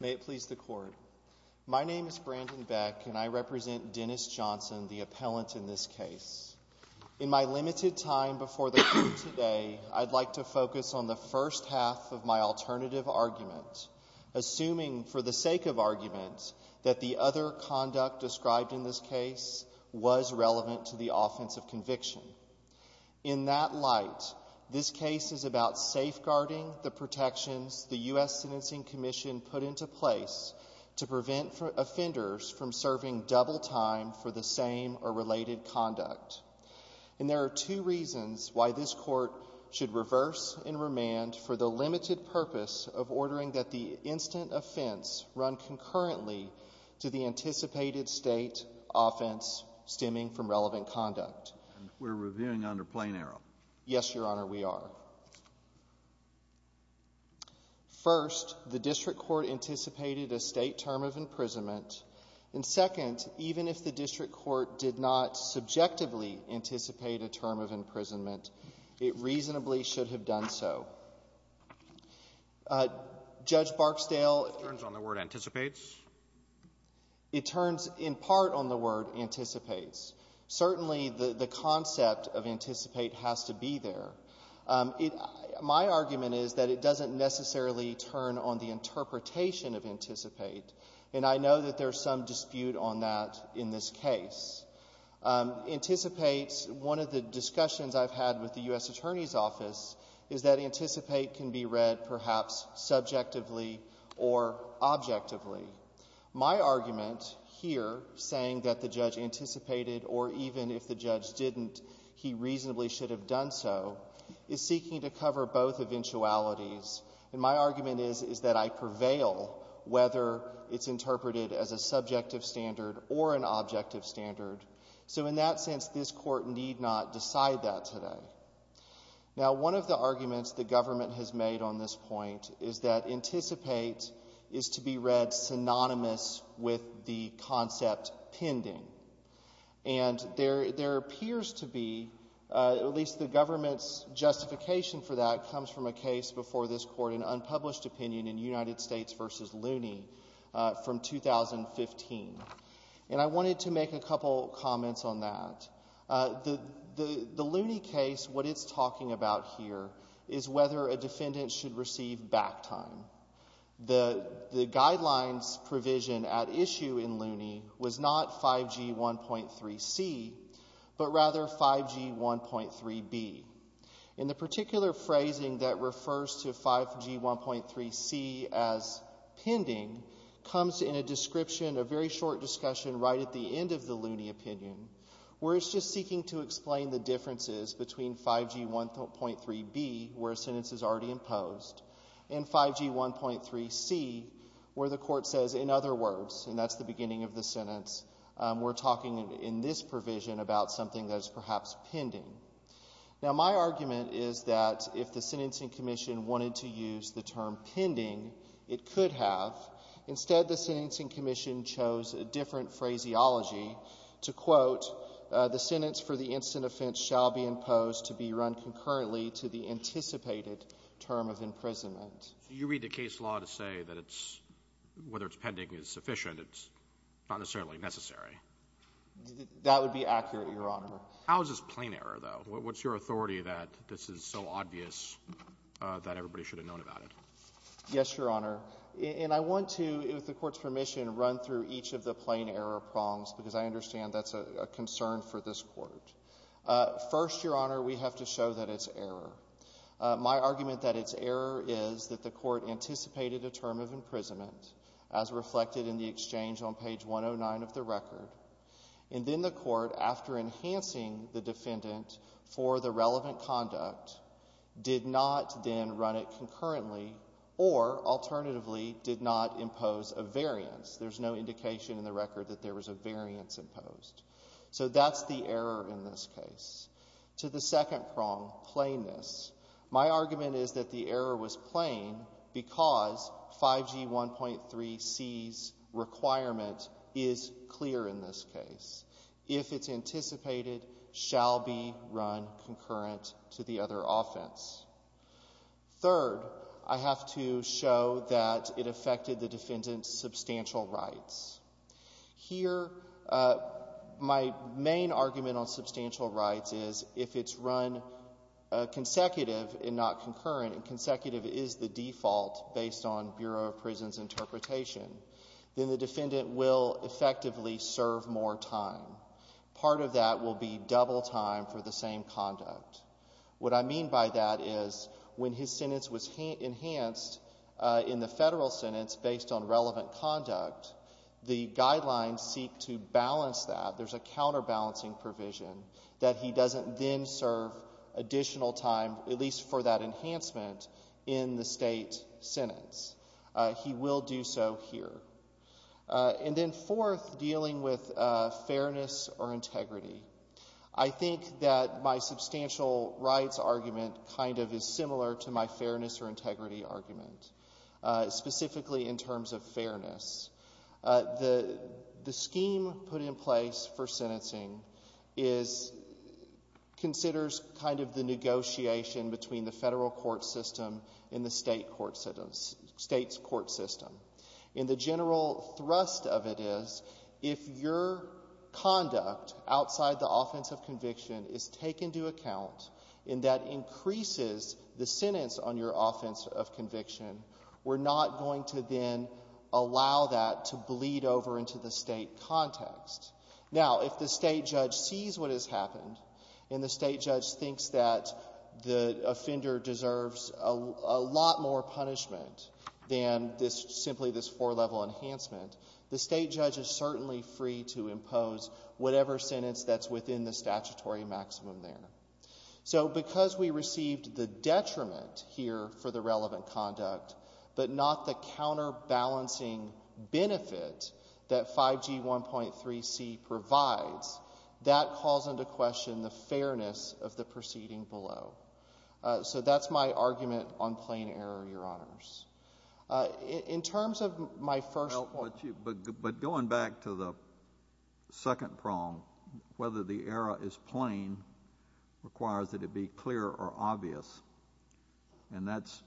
May it please the Court. My name is Brandon Beck, and I represent Dennis Johnson, the appellant in this case. In my limited time before the Court today, I'd like to focus on the first half of my alternative argument, assuming for the sake of argument that the other conduct described in this case was relevant to the offense of conviction. In that light, this case is about safeguarding the protections the U.S. Sentencing Commission put into place to prevent offenders from serving double time for the same or related conduct. And there are two reasons why this Court should reverse and remand for the limited purpose of ordering that the instant offense run concurrently to the anticipated State offense stemming from relevant conduct. And we're reviewing under plain error. Yes, Your Honor, we are. First, the district court anticipated a State term of imprisonment. And, second, even if the district court did not subjectively anticipate a term of imprisonment, it reasonably should have done so. Judge Barksdale — It turns on the word anticipates. It turns in part on the word anticipates. Certainly, the concept of anticipate has to be there. My argument is that it doesn't necessarily turn on the interpretation of anticipate. And I know that there's some dispute on that in this case. Anticipates — one of the discussions I've had with the U.S. Attorney's Office is that anticipate can be read perhaps subjectively or objectively. My argument here, saying that the judge anticipated or even if the judge didn't, he reasonably should have done so, is seeking to cover both eventualities. And my argument is, is that I prevail whether it's interpreted as a subjective standard or an objective standard. So in that sense, this Court need not decide that today. Now, one of the arguments the government has made on this point is that anticipate is to be read synonymous with the concept pending. And there appears to be — at least the government's justification for that comes from a case before this Court, an unpublished opinion in United States v. Looney from 2015. And I wanted to make a couple comments on that. The Looney case, what it's talking about here is whether a defendant should receive back time. The guidelines provision at issue in Looney was not 5G1.3C, but rather 5G1.3B. And the particular phrasing that refers to 5G1.3C as pending comes in a description, a very short discussion right at the end of the Looney opinion, where it's just seeking to explain the differences between 5G1.3B, where a sentence is already imposed, and 5G1.3C, where the Court says, in other words, and that's the beginning of the sentence, we're talking in this provision about something that is perhaps pending. Now, my argument is that if the Sentencing Commission wanted to use the term pending, it could have. Instead, the Sentencing Commission chose a different phraseology to quote, the sentence for the instant offense shall be imposed to be run concurrently to the anticipated term of imprisonment. So you read the case law to say that it's, whether it's pending is sufficient, it's not necessarily necessary? That would be accurate, Your Honor. How is this plain error, though? What's your authority that this is so obvious that everybody should have known about it? Yes, Your Honor. And I want to, with the Court's permission, run through each of the plain error prongs, because I understand that's a concern for this Court. First, Your Honor, we have to show that it's error. My argument that it's error is that the Court anticipated a term of imprisonment, as reflected in the exchange on page 109 of the record. And then the Court, after enhancing the defendant for the relevant conduct, did not then run it concurrently or, alternatively, did not impose a variance. There's no indication in the record that there was a variance imposed. So that's the error in this case. To the second prong, plainness, my argument is that the error was plain because 5G 1.3c's requirement is clear in this case. If it's anticipated, shall be run concurrent to the other offense. Third, I have to show that it affected the defendant's substantial rights. Here, my main argument on substantial rights is if it's run consecutive and not concurrent, and consecutive is the default based on Bureau of Prison's interpretation, then the defendant will effectively serve more time. Part of that will be double time for the same conduct. What I mean by that is when his sentence was enhanced in the Federal sentence based on relevant conduct, the guidelines seek to balance that. There's a counterbalancing provision that he doesn't then serve additional time, at least for that enhancement, in the State sentence. He will do so here. And then fourth, dealing with fairness or integrity. I think that my substantial rights argument kind of is similar to my fairness or integrity argument, specifically in terms of fairness. The scheme put in place for sentencing is, considers kind of the negotiation between the Federal court system and the State court system, State's court system. And the general thrust of it is if your conduct outside the offense of conviction is taken into account and that increases the sentence on your offense of conviction, we're not going to then allow that to bleed over into the State context. Now, if the State judge sees what has happened and the State judge thinks that the offender deserves a lot more punishment than simply this four-level enhancement, the State judge is certainly free to impose whatever sentence that's within the statutory maximum there. So because we received the detriment here for the relevant conduct but not the counterbalancing benefit that 5G 1.3c provides, that calls into question the fairness of the proceeding below. So that's my argument on plain error, Your Honors. In terms of my first point. But going back to the second prong, whether the error is plain requires that it be clear or obvious. And that's,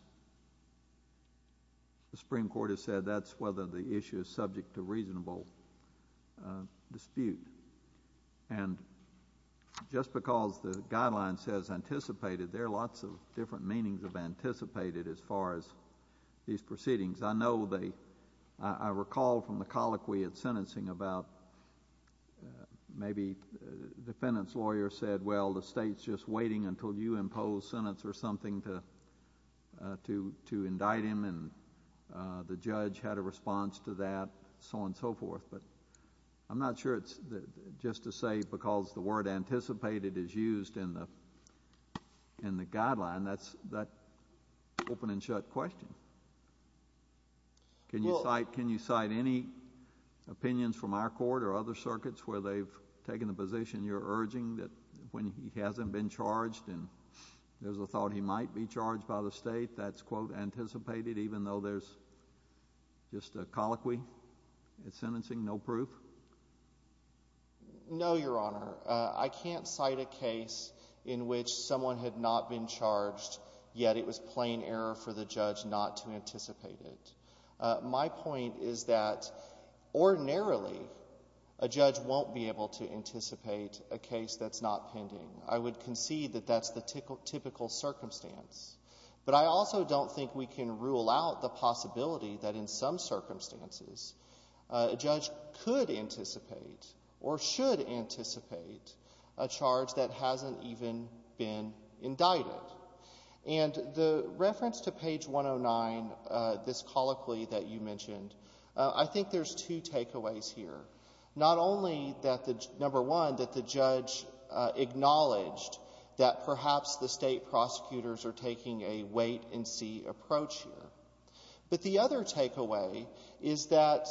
the Supreme Court has said, that's whether the issue is subject to reasonable dispute. And just because the guideline says anticipated, there are lots of different meanings of anticipated as far as these proceedings. I know they, I recall from the colloquy at sentencing about, maybe the defendant's lawyer said, well, the State's just waiting until you impose sentence or something to indict him. And the judge had a response to that, so on and so forth. But I'm not sure it's just to say because the word anticipated is used in the guideline. That's an open and shut question. Can you cite any opinions from our court or other circuits where they've taken a position, you're urging that when he hasn't been charged and there's a thought he might be charged by the State, that's, quote, anticipated even though there's just a colloquy at sentencing, no proof? No, Your Honor. I can't cite a case in which someone had not been charged, yet it was plain error for the judge not to anticipate it. My point is that ordinarily a judge won't be able to anticipate a case that's not pending. I would concede that that's the typical circumstance. But I also don't think we can rule out the possibility that in some circumstances a judge could anticipate or should anticipate a charge that hasn't even been indicted. And the reference to page 109, this colloquy that you mentioned, I think there's two takeaways here. Not only, number one, that the judge acknowledged that perhaps the State prosecutors are taking a wait-and-see approach here, but the other takeaway is that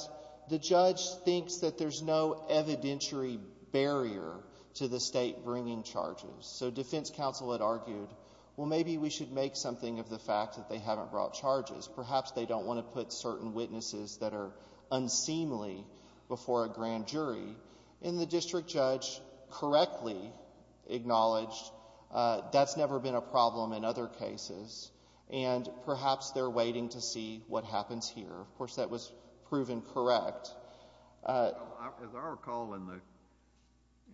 the judge thinks that there's no evidentiary barrier to the State bringing charges. So defense counsel had argued, well, maybe we should make something of the fact that they haven't brought charges. Perhaps they don't want to put certain witnesses that are unseemly before a grand jury. And the district judge correctly acknowledged that's never been a problem in other cases, and perhaps they're waiting to see what happens here. Of course, that was proven correct. As I recall in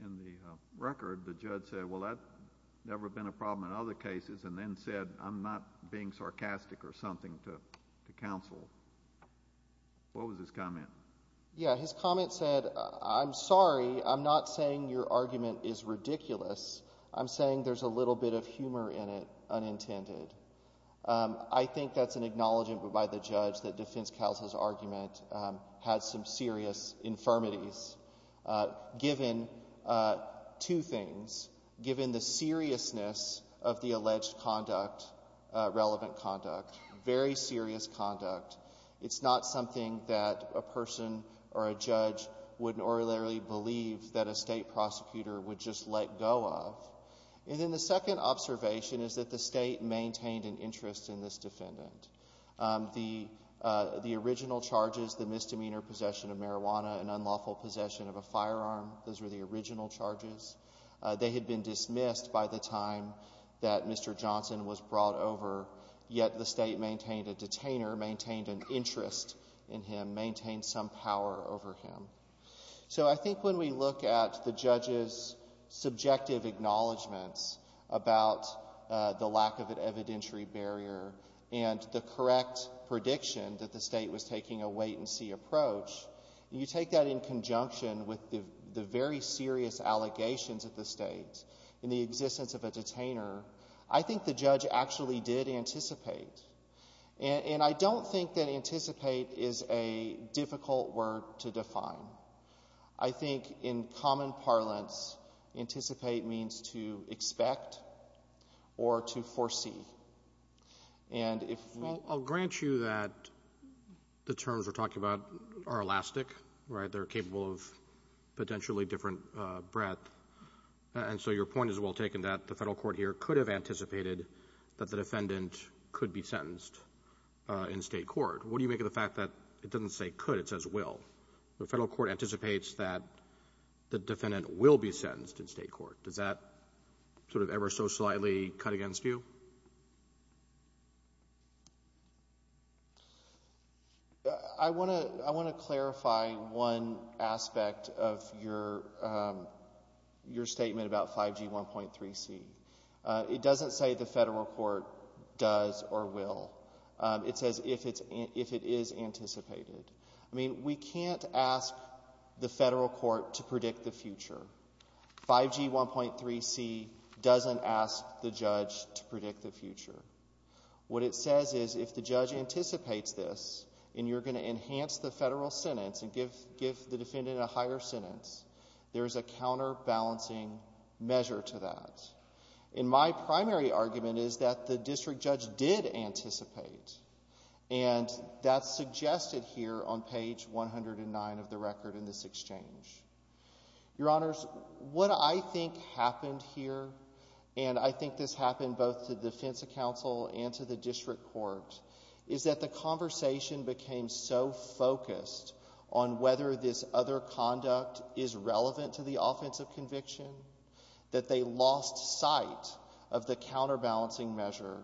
the record, the judge said, well, that's never been a problem in other cases, and then said, I'm not being sarcastic or something to counsel. What was his comment? Yeah, his comment said, I'm sorry, I'm not saying your argument is ridiculous. I'm saying there's a little bit of humor in it, unintended. I think that's an acknowledgment by the judge that defense counsel's argument had some serious infirmities, given two things, given the seriousness of the alleged conduct, relevant conduct, very serious conduct. It's not something that a person or a judge would or literally believe that a State prosecutor would just let go of. And then the second observation is that the State maintained an interest in this defendant. The original charges, the misdemeanor possession of marijuana, an unlawful possession of a firearm, those were the original charges. They had been dismissed by the time that Mr. Johnson was brought over, yet the State maintained a detainer, maintained an interest in him, maintained some power over him. So I think when we look at the judge's subjective acknowledgments about the lack of an evidentiary barrier and the correct prediction that the State was taking a wait-and-see approach, you take that in conjunction with the very serious allegations of the State in the existence of a detainer, I think the judge actually did anticipate. And I don't think that anticipate is a difficult word to define. I think in common parlance, anticipate means to expect or to foresee. And if we — Well, I'll grant you that the terms we're talking about are elastic, right? They're capable of potentially different breadth. And so your point is well taken that the Federal court here could have anticipated that the defendant could be sentenced in State court. What do you make of the fact that it doesn't say could, it says will? The Federal court anticipates that the defendant will be sentenced in State court. Does that sort of ever so slightly cut against you? I want to clarify one aspect of your statement about 5G 1.3c. It doesn't say the Federal court does or will. It says if it is anticipated. I mean, we can't ask the Federal court to predict the future. 5G 1.3c doesn't ask the judge to predict the future. What it says is if the judge anticipates this and you're going to enhance the Federal sentence and give the defendant a higher sentence, there's a counterbalancing measure to that. And my primary argument is that the district judge did anticipate. And that's suggested here on page 109 of the record in this exchange. Your Honors, what I think happened here, and I think this happened both to the defense counsel and to the district court, is that the conversation became so focused on whether this other conduct is relevant to the offensive conviction that they lost sight of the counterbalancing measure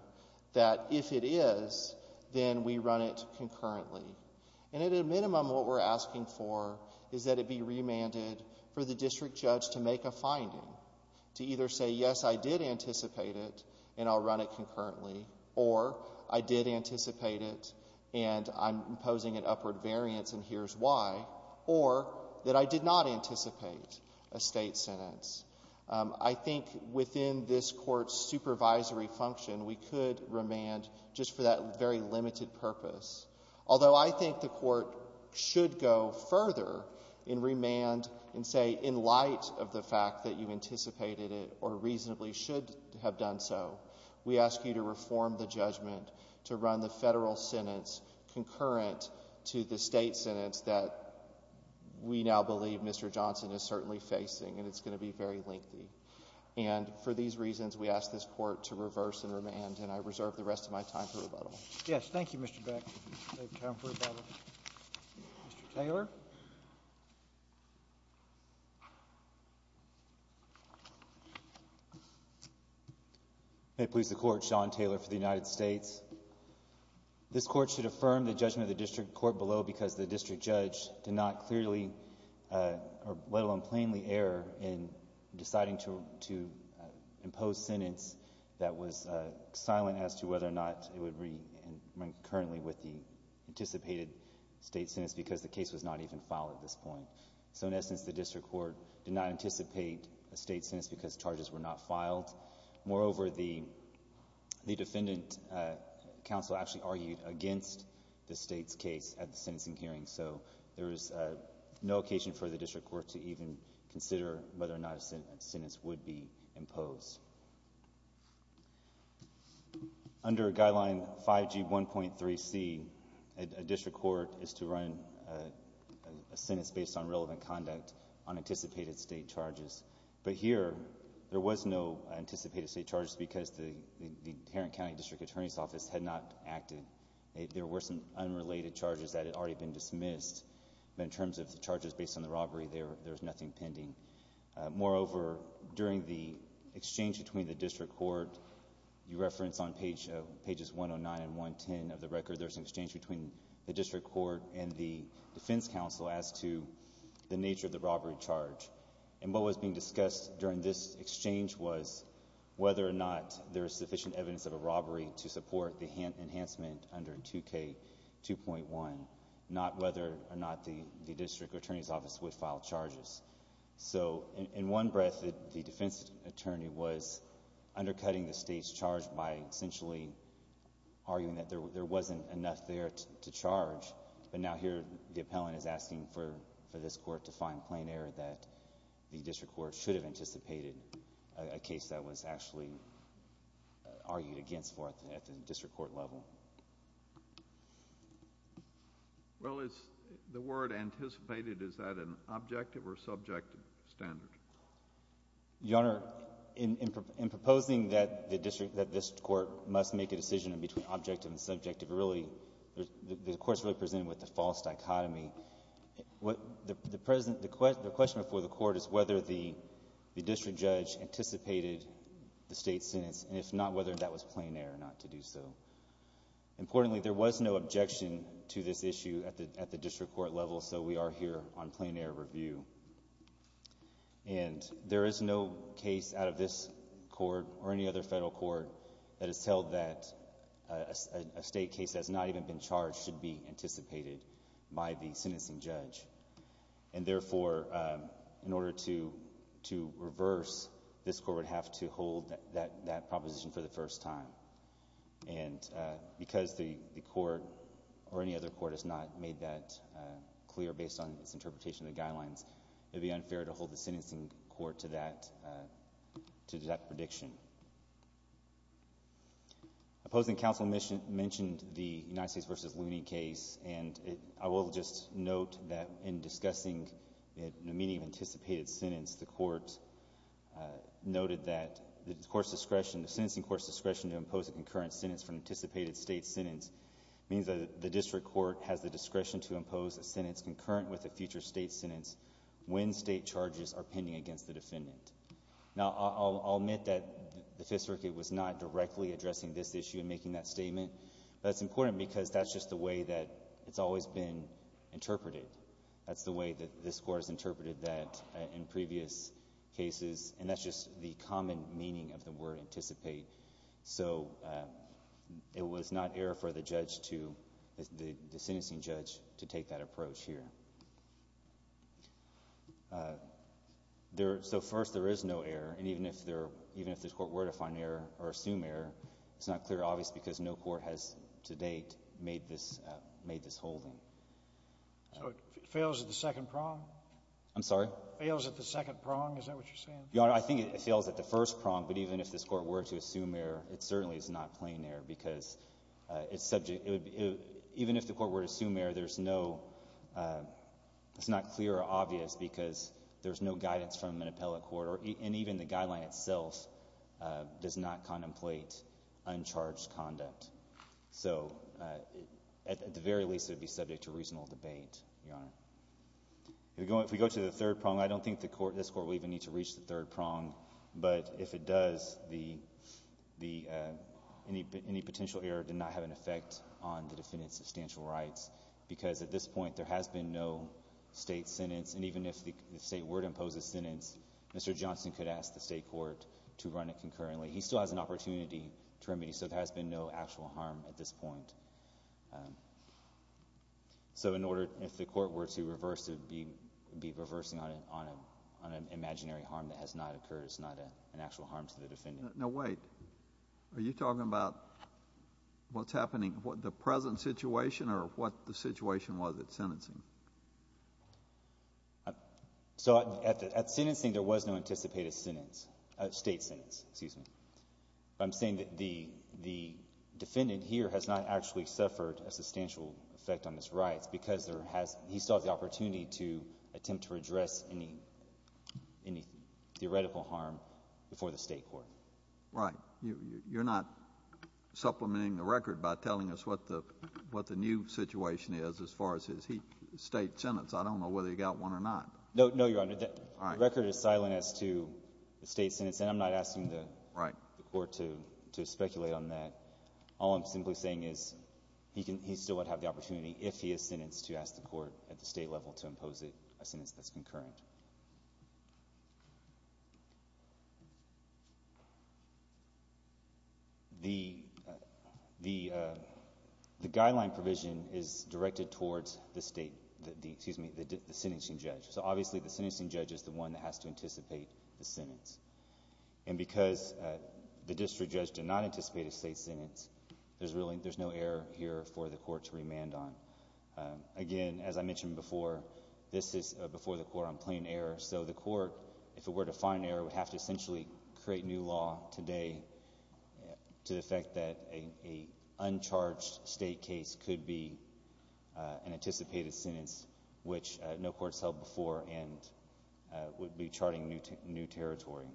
that if it is, then we run it concurrently. And at a minimum, what we're asking for is that it be remanded for the district judge to make a finding, to either say, yes, I did anticipate it and I'll run it concurrently, or I did anticipate it and I'm imposing an upward variance and here's why, or that I did not anticipate a state sentence. I think within this court's supervisory function, we could remand just for that very limited purpose. Although I think the court should go further and remand and say, in light of the fact that you anticipated it or reasonably should have done so, we ask you to reform the judgment to run the Federal sentence concurrent to the state sentence that we now believe Mr. Johnson is certainly facing and it's going to be very lengthy. And for these reasons, we ask this court to reverse and remand, and I reserve the rest of my time for rebuttal. Yes. Thank you, Mr. Beck. Mr. Taylor. May it please the Court, Sean Taylor for the United States. This Court should affirm the judgment of the district court below because the district judge did not clearly or let alone plainly err in deciding to impose sentence that was silent as to whether or not it would be concurrently with the anticipated state sentence because the case was not even filed at this point. So in essence, the district court did not anticipate a state sentence because charges were not filed. Moreover, the defendant counsel actually argued against the state's case at the sentencing hearing, so there is no occasion for the district court to even consider whether or not a sentence would be imposed. Under Guideline 5G1.3C, a district court is to run a sentence based on relevant conduct on anticipated state charges. But here, there was no anticipated state charges because the Tarrant County District Attorney's Office had not acted. There were some unrelated charges that had already been dismissed. But in terms of the charges based on the robbery, there's nothing pending. Moreover, during the exchange between the district court, you reference on pages 109 and 110 of the record, there's an exchange between the district court and the defense counsel as to the nature of the robbery charge and what was being discussed during this exchange was whether or not there is sufficient evidence of a robbery to support the enhancement under 2K2.1, not whether or not the district attorney's office would file charges. So in one breath, the defense attorney was undercutting the state's charge by essentially arguing that there wasn't enough there to charge. But now here, the appellant is asking for this court to find plain error that the district court should have anticipated a case that was actually argued against for at the district court level. Well, is the word anticipated, is that an objective or subjective standard? Your Honor, in proposing that this court must make a decision between objective and subjective, the court is really presented with a false dichotomy. The question before the court is whether the district judge anticipated the state's sentence, and if not, whether that was plain error not to do so. Importantly, there was no objection to this issue at the district court level, so we are here on plain error review. And there is no case out of this court or any other federal court that has held that a state case that has not even been charged should be anticipated by the sentencing judge. And therefore, in order to reverse, this court would have to hold that proposition for the first time. And because the court or any other court has not made that clear based on its interpretation of the guidelines, it would be unfair to hold the sentencing court to that prediction. Opposing counsel mentioned the United States v. Looney case, and I will just note that in discussing it in the meaning of anticipated sentence, the court noted that the court's discretion, the sentencing court's discretion to impose a concurrent sentence for an anticipated state sentence means that the district court has the discretion to impose a sentence concurrent with a future state sentence when state charges are pending against the defendant. Now, I'll admit that the Fifth Circuit was not directly addressing this issue in making that statement, but that's important because that's just the way that it's always been interpreted. That's the way that this court has interpreted that in previous cases, and that's just the common meaning of the word anticipate. So it was not error for the judge to, the sentencing judge, to take that approach here. So first, there is no error, and even if this court were to find error or assume error, it's not clear or obvious because no court has to date made this holding. So it fails at the second prong? I'm sorry? Fails at the second prong? Is that what you're saying? Your Honor, I think it fails at the first prong, but even if this court were to assume error, it certainly is not plain error because it's subject, even if the court were to assume error, there's no, it's not clear or obvious because there's no guidance from an appellate court, and even the guideline itself does not contemplate uncharged conduct. So at the very least, it would be subject to reasonable debate, Your Honor. If we go to the third prong, I don't think this court would even need to reach the third prong, but if it does, any potential error did not have an effect on the defendant's substantial rights because at this point there has been no state sentence, and even if the state were to impose a sentence, Mr. Johnson could ask the state court to run it concurrently. He still has an opportunity to remedy, so there has been no actual harm at this point. So in order, if the court were to reverse it, be reversing on an imaginary harm that has not occurred, it's not an actual harm to the defendant. Now, wait. Are you talking about what's happening, the present situation, or what the situation was at sentencing? So at sentencing there was no anticipated sentence, state sentence, excuse me. I'm saying that the defendant here has not actually suffered a substantial effect on his rights because he still has the opportunity to attempt to redress any theoretical harm before the state court. Right. You're not supplementing the record by telling us what the new situation is as far as his state sentence. I don't know whether he got one or not. No, Your Honor. All right. The record is silent as to the state sentence, and I'm not asking the court to speculate on that. All I'm simply saying is he still would have the opportunity, if he is sentenced, to ask the court at the state level to impose a sentence that's concurrent. The guideline provision is directed towards the state, excuse me, the sentencing judge. So obviously the sentencing judge is the one that has to anticipate the sentence. And because the district judge did not anticipate a state sentence, there's no error here for the court to remand on. Again, as I mentioned before, this is before the court on plain error. So the court, if it were to find error, would have to essentially create new law today to the effect that an uncharged state case could be an anticipated sentence, which no court has held before and would be charting new territory.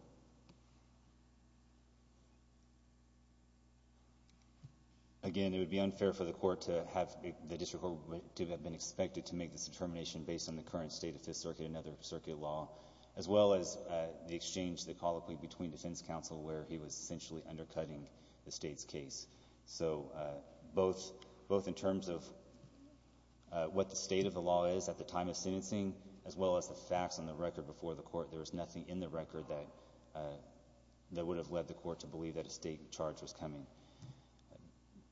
Again, it would be unfair for the district court to have been expected to make this determination based on the current state of Fifth Circuit and other circuit law, as well as the exchange, the colloquy, between defense counsel where he was essentially undercutting the state's case. So both in terms of what the state of the law is at the time of sentencing, as well as the facts on the record before the court, there was nothing in the record that would have led the court to believe that a state charge was coming.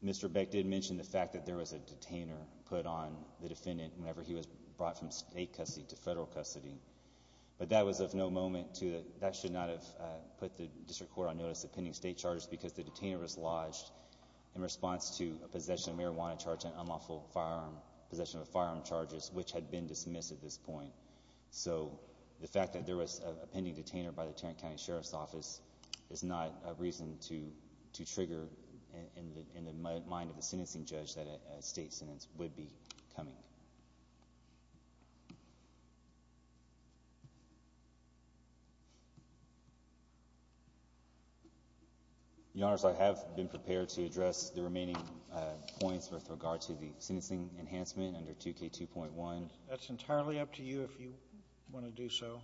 Mr. Beck did mention the fact that there was a detainer put on the defendant whenever he was brought from state custody to federal custody. But that was of no moment to that. That should not have put the district court on notice of pending state charges because the detainer was lodged in response to a possession of marijuana charge and unlawful possession of firearm charges, which had been dismissed at this point. So the fact that there was a pending detainer by the Tarrant County Sheriff's Office is not a reason to trigger in the mind of the sentencing judge that a state sentence would be coming. Your Honors, I have been prepared to address the remaining points with regard to the sentencing enhancement under 2K2.1. That's entirely up to you if you want to do so.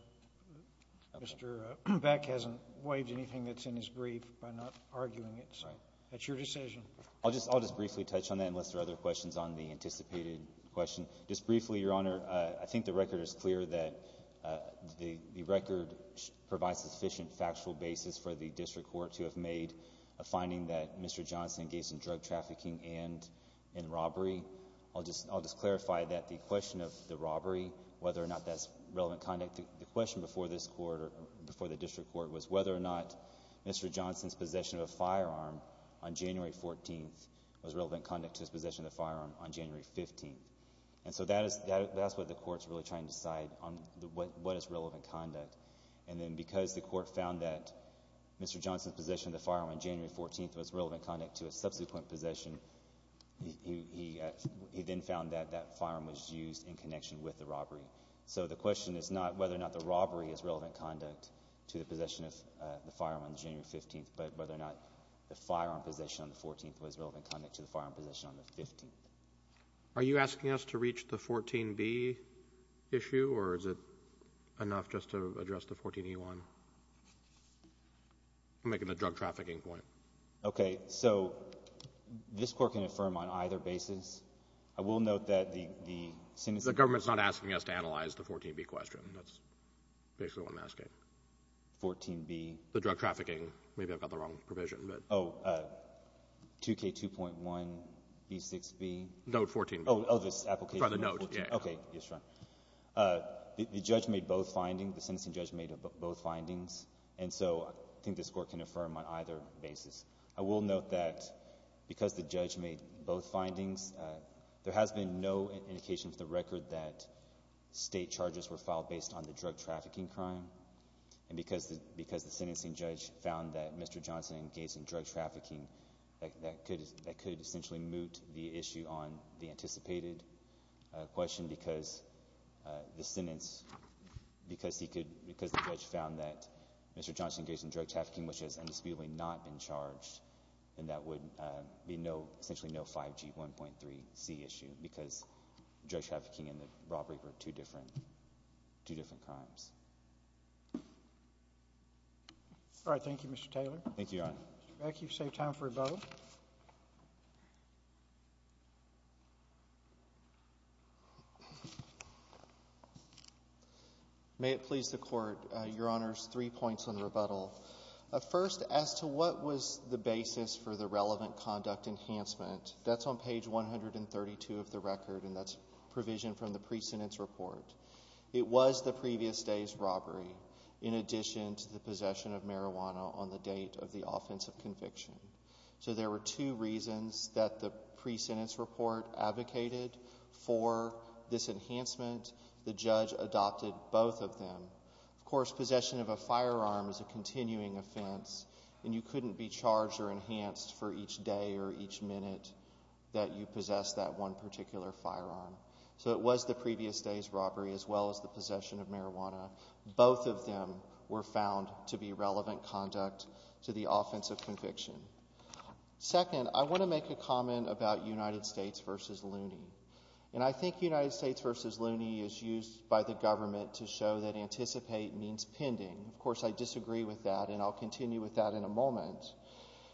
Mr. Beck hasn't waived anything that's in his brief by not arguing it. Right. That's your decision. I'll just briefly touch on that unless there are other questions on the anticipated question. Just briefly, Your Honor, I think the record is clear that the record provides sufficient factual basis for the district court to have made a finding that Mr. Johnson engaged in drug trafficking and in robbery. I'll just clarify that the question of the robbery, whether or not that's relevant conduct, the question before the district court was whether or not Mr. Johnson's possession of a firearm on January 14th was relevant conduct to his possession of the firearm on January 15th. And so that's what the court's really trying to decide on what is relevant conduct. And then because the court found that Mr. Johnson's possession of the firearm on January 14th was relevant conduct to his subsequent possession, he then found that that firearm was used in connection with the robbery. So the question is not whether or not the robbery is relevant conduct to the possession of the firearm on January 15th, but whether or not the firearm possession on the 14th was relevant conduct to the firearm possession on the 15th. Are you asking us to reach the 14b issue, or is it enough just to address the 14e1? I'm making the drug trafficking point. Okay. So this Court can affirm on either basis. I will note that the sentencing judge made both findings. And so I think this Court can affirm on either basis. I will note that because the judge made both findings, there has been no indication for the record that State charges were filed based on the drug trafficking crime. And because the sentencing judge found that Mr. Johnson engaged in drug trafficking, that could essentially moot the issue on the anticipated question because the sentence, because the judge found that Mr. Johnson engaged in drug trafficking, which has undisputably not been charged, and that would be essentially no 5G1.3c issue because drug trafficking and the robbery were two different crimes. All right. Thank you, Mr. Taylor. Thank you, Your Honor. Mr. Beck, you've saved time for a vote. May it please the Court, Your Honors, three points on the rebuttal. First, as to what was the basis for the relevant conduct enhancement, that's on page 132 of the record, and that's provision from the pre-sentence report. It was the previous day's robbery in addition to the possession of marijuana on the date of the offensive conviction. So there were two reasons that the pre-sentence report advocated for this enhancement. The judge adopted both of them. Of course, possession of a firearm is a continuing offense, and you couldn't be charged or enhanced for each day or each minute that you possessed that one particular firearm. So it was the previous day's robbery as well as the possession of marijuana. Both of them were found to be relevant conduct to the offensive conviction. Second, I want to make a comment about United States v. Looney. And I think United States v. Looney is used by the government to show that anticipate means pending. Of course, I disagree with that, and I'll continue with that in a moment.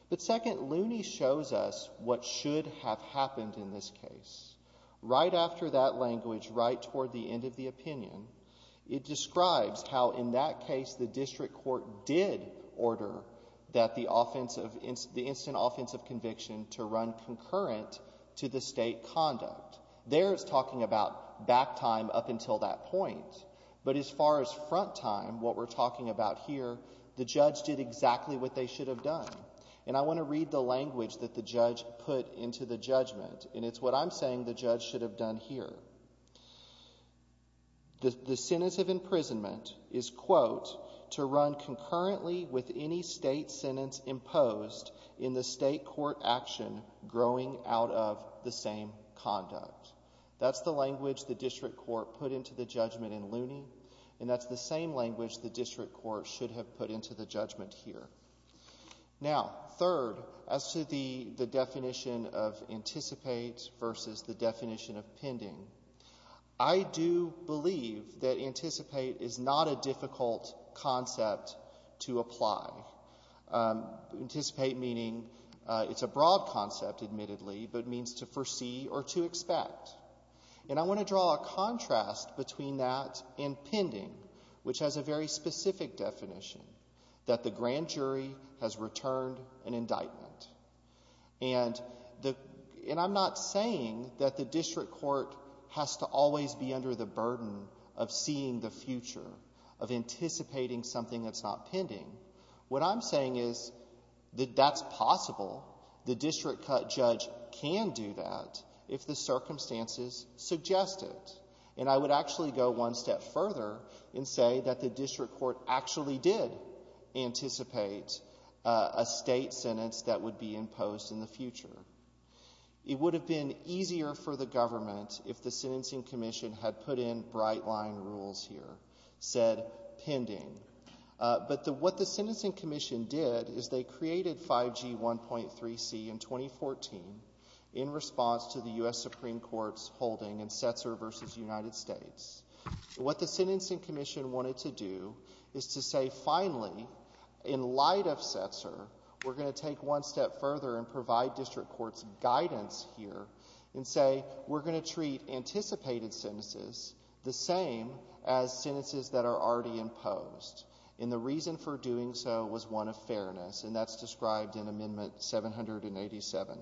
But second, Looney shows us what should have happened in this case. Right after that language, right toward the end of the opinion, it describes how in that case the district court did order that the offense of instant offensive conviction to run concurrent to the state conduct. There it's talking about back time up until that point. But as far as front time, what we're talking about here, the judge did exactly what they should have done. And I want to read the language that the judge put into the judgment, and it's what I'm saying the judge should have done here. The sentence of imprisonment is, quote, to run concurrently with any state sentence imposed in the state court action growing out of the same conduct. That's the language the district court put into the judgment in Looney, and that's the same language the district court should have put into the judgment here. Now, third, as to the definition of anticipate versus the definition of pending, I do believe that anticipate is not a difficult concept to apply. Anticipate meaning it's a broad concept, admittedly, but it means to foresee or to expect. And I want to draw a contrast between that and pending, which has a very specific definition, that the grand jury has returned an indictment. And I'm not saying that the district court has to always be under the burden of seeing the future, of anticipating something that's not pending. What I'm saying is that that's possible. The district court judge can do that if the circumstances suggest it. And I would actually go one step further and say that the district court actually did anticipate a state sentence that would be imposed in the future. It would have been easier for the government if the sentencing commission had put in bright line rules here, said pending. But what the sentencing commission did is they created 5G 1.3C in 2014 in response to the U.S. Supreme Court's holding in Setzer v. United States. What the sentencing commission wanted to do is to say, finally, in light of Setzer, we're going to take one step further and provide district court's guidance here and say we're going to treat anticipated sentences the same as sentences that are already imposed. And the reason for doing so was one of fairness, and that's described in Amendment 787.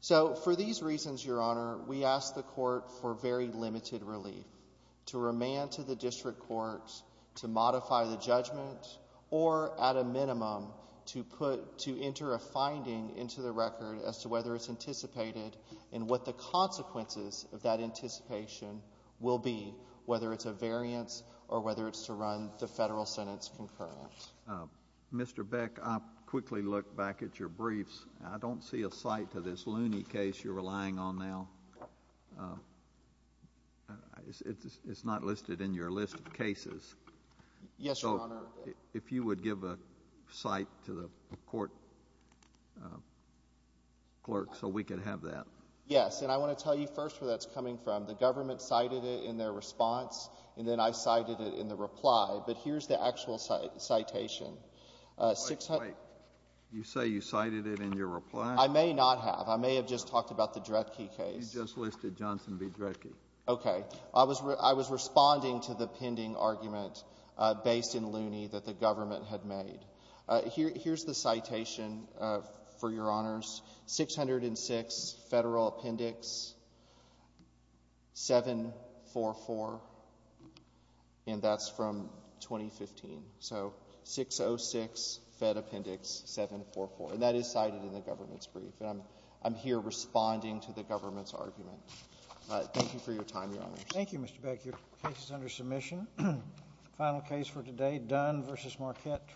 So for these reasons, Your Honor, we ask the court for very limited relief, to remand to the district courts to modify the judgment or, at a minimum, to put to enter a finding into the record as to whether it's anticipated and what the consequences of that anticipation will be, whether it's a variance or whether it's to run the federal sentence concurrent. Mr. Beck, I'll quickly look back at your briefs. I don't see a cite to this Looney case you're relying on now. It's not listed in your list of cases. Yes, Your Honor. So if you would give a cite to the court clerk so we could have that. Yes. And I want to tell you first where that's coming from. The government cited it in their response, and then I cited it in the reply. But here's the actual citation. Wait. You say you cited it in your reply? I may not have. I may have just talked about the Dredke case. You just listed Johnson v. Dredke. Okay. I was responding to the pending argument based in Looney that the government had made. Here's the citation for Your Honors. 606 Federal Appendix 744, and that's from 2015. So 606 Fed Appendix 744. And that is cited in the government's brief. And I'm here responding to the government's argument. Thank you for your time, Your Honors. Thank you, Mr. Beck. Your case is under submission. Final case for today, Dunn v. Marquette.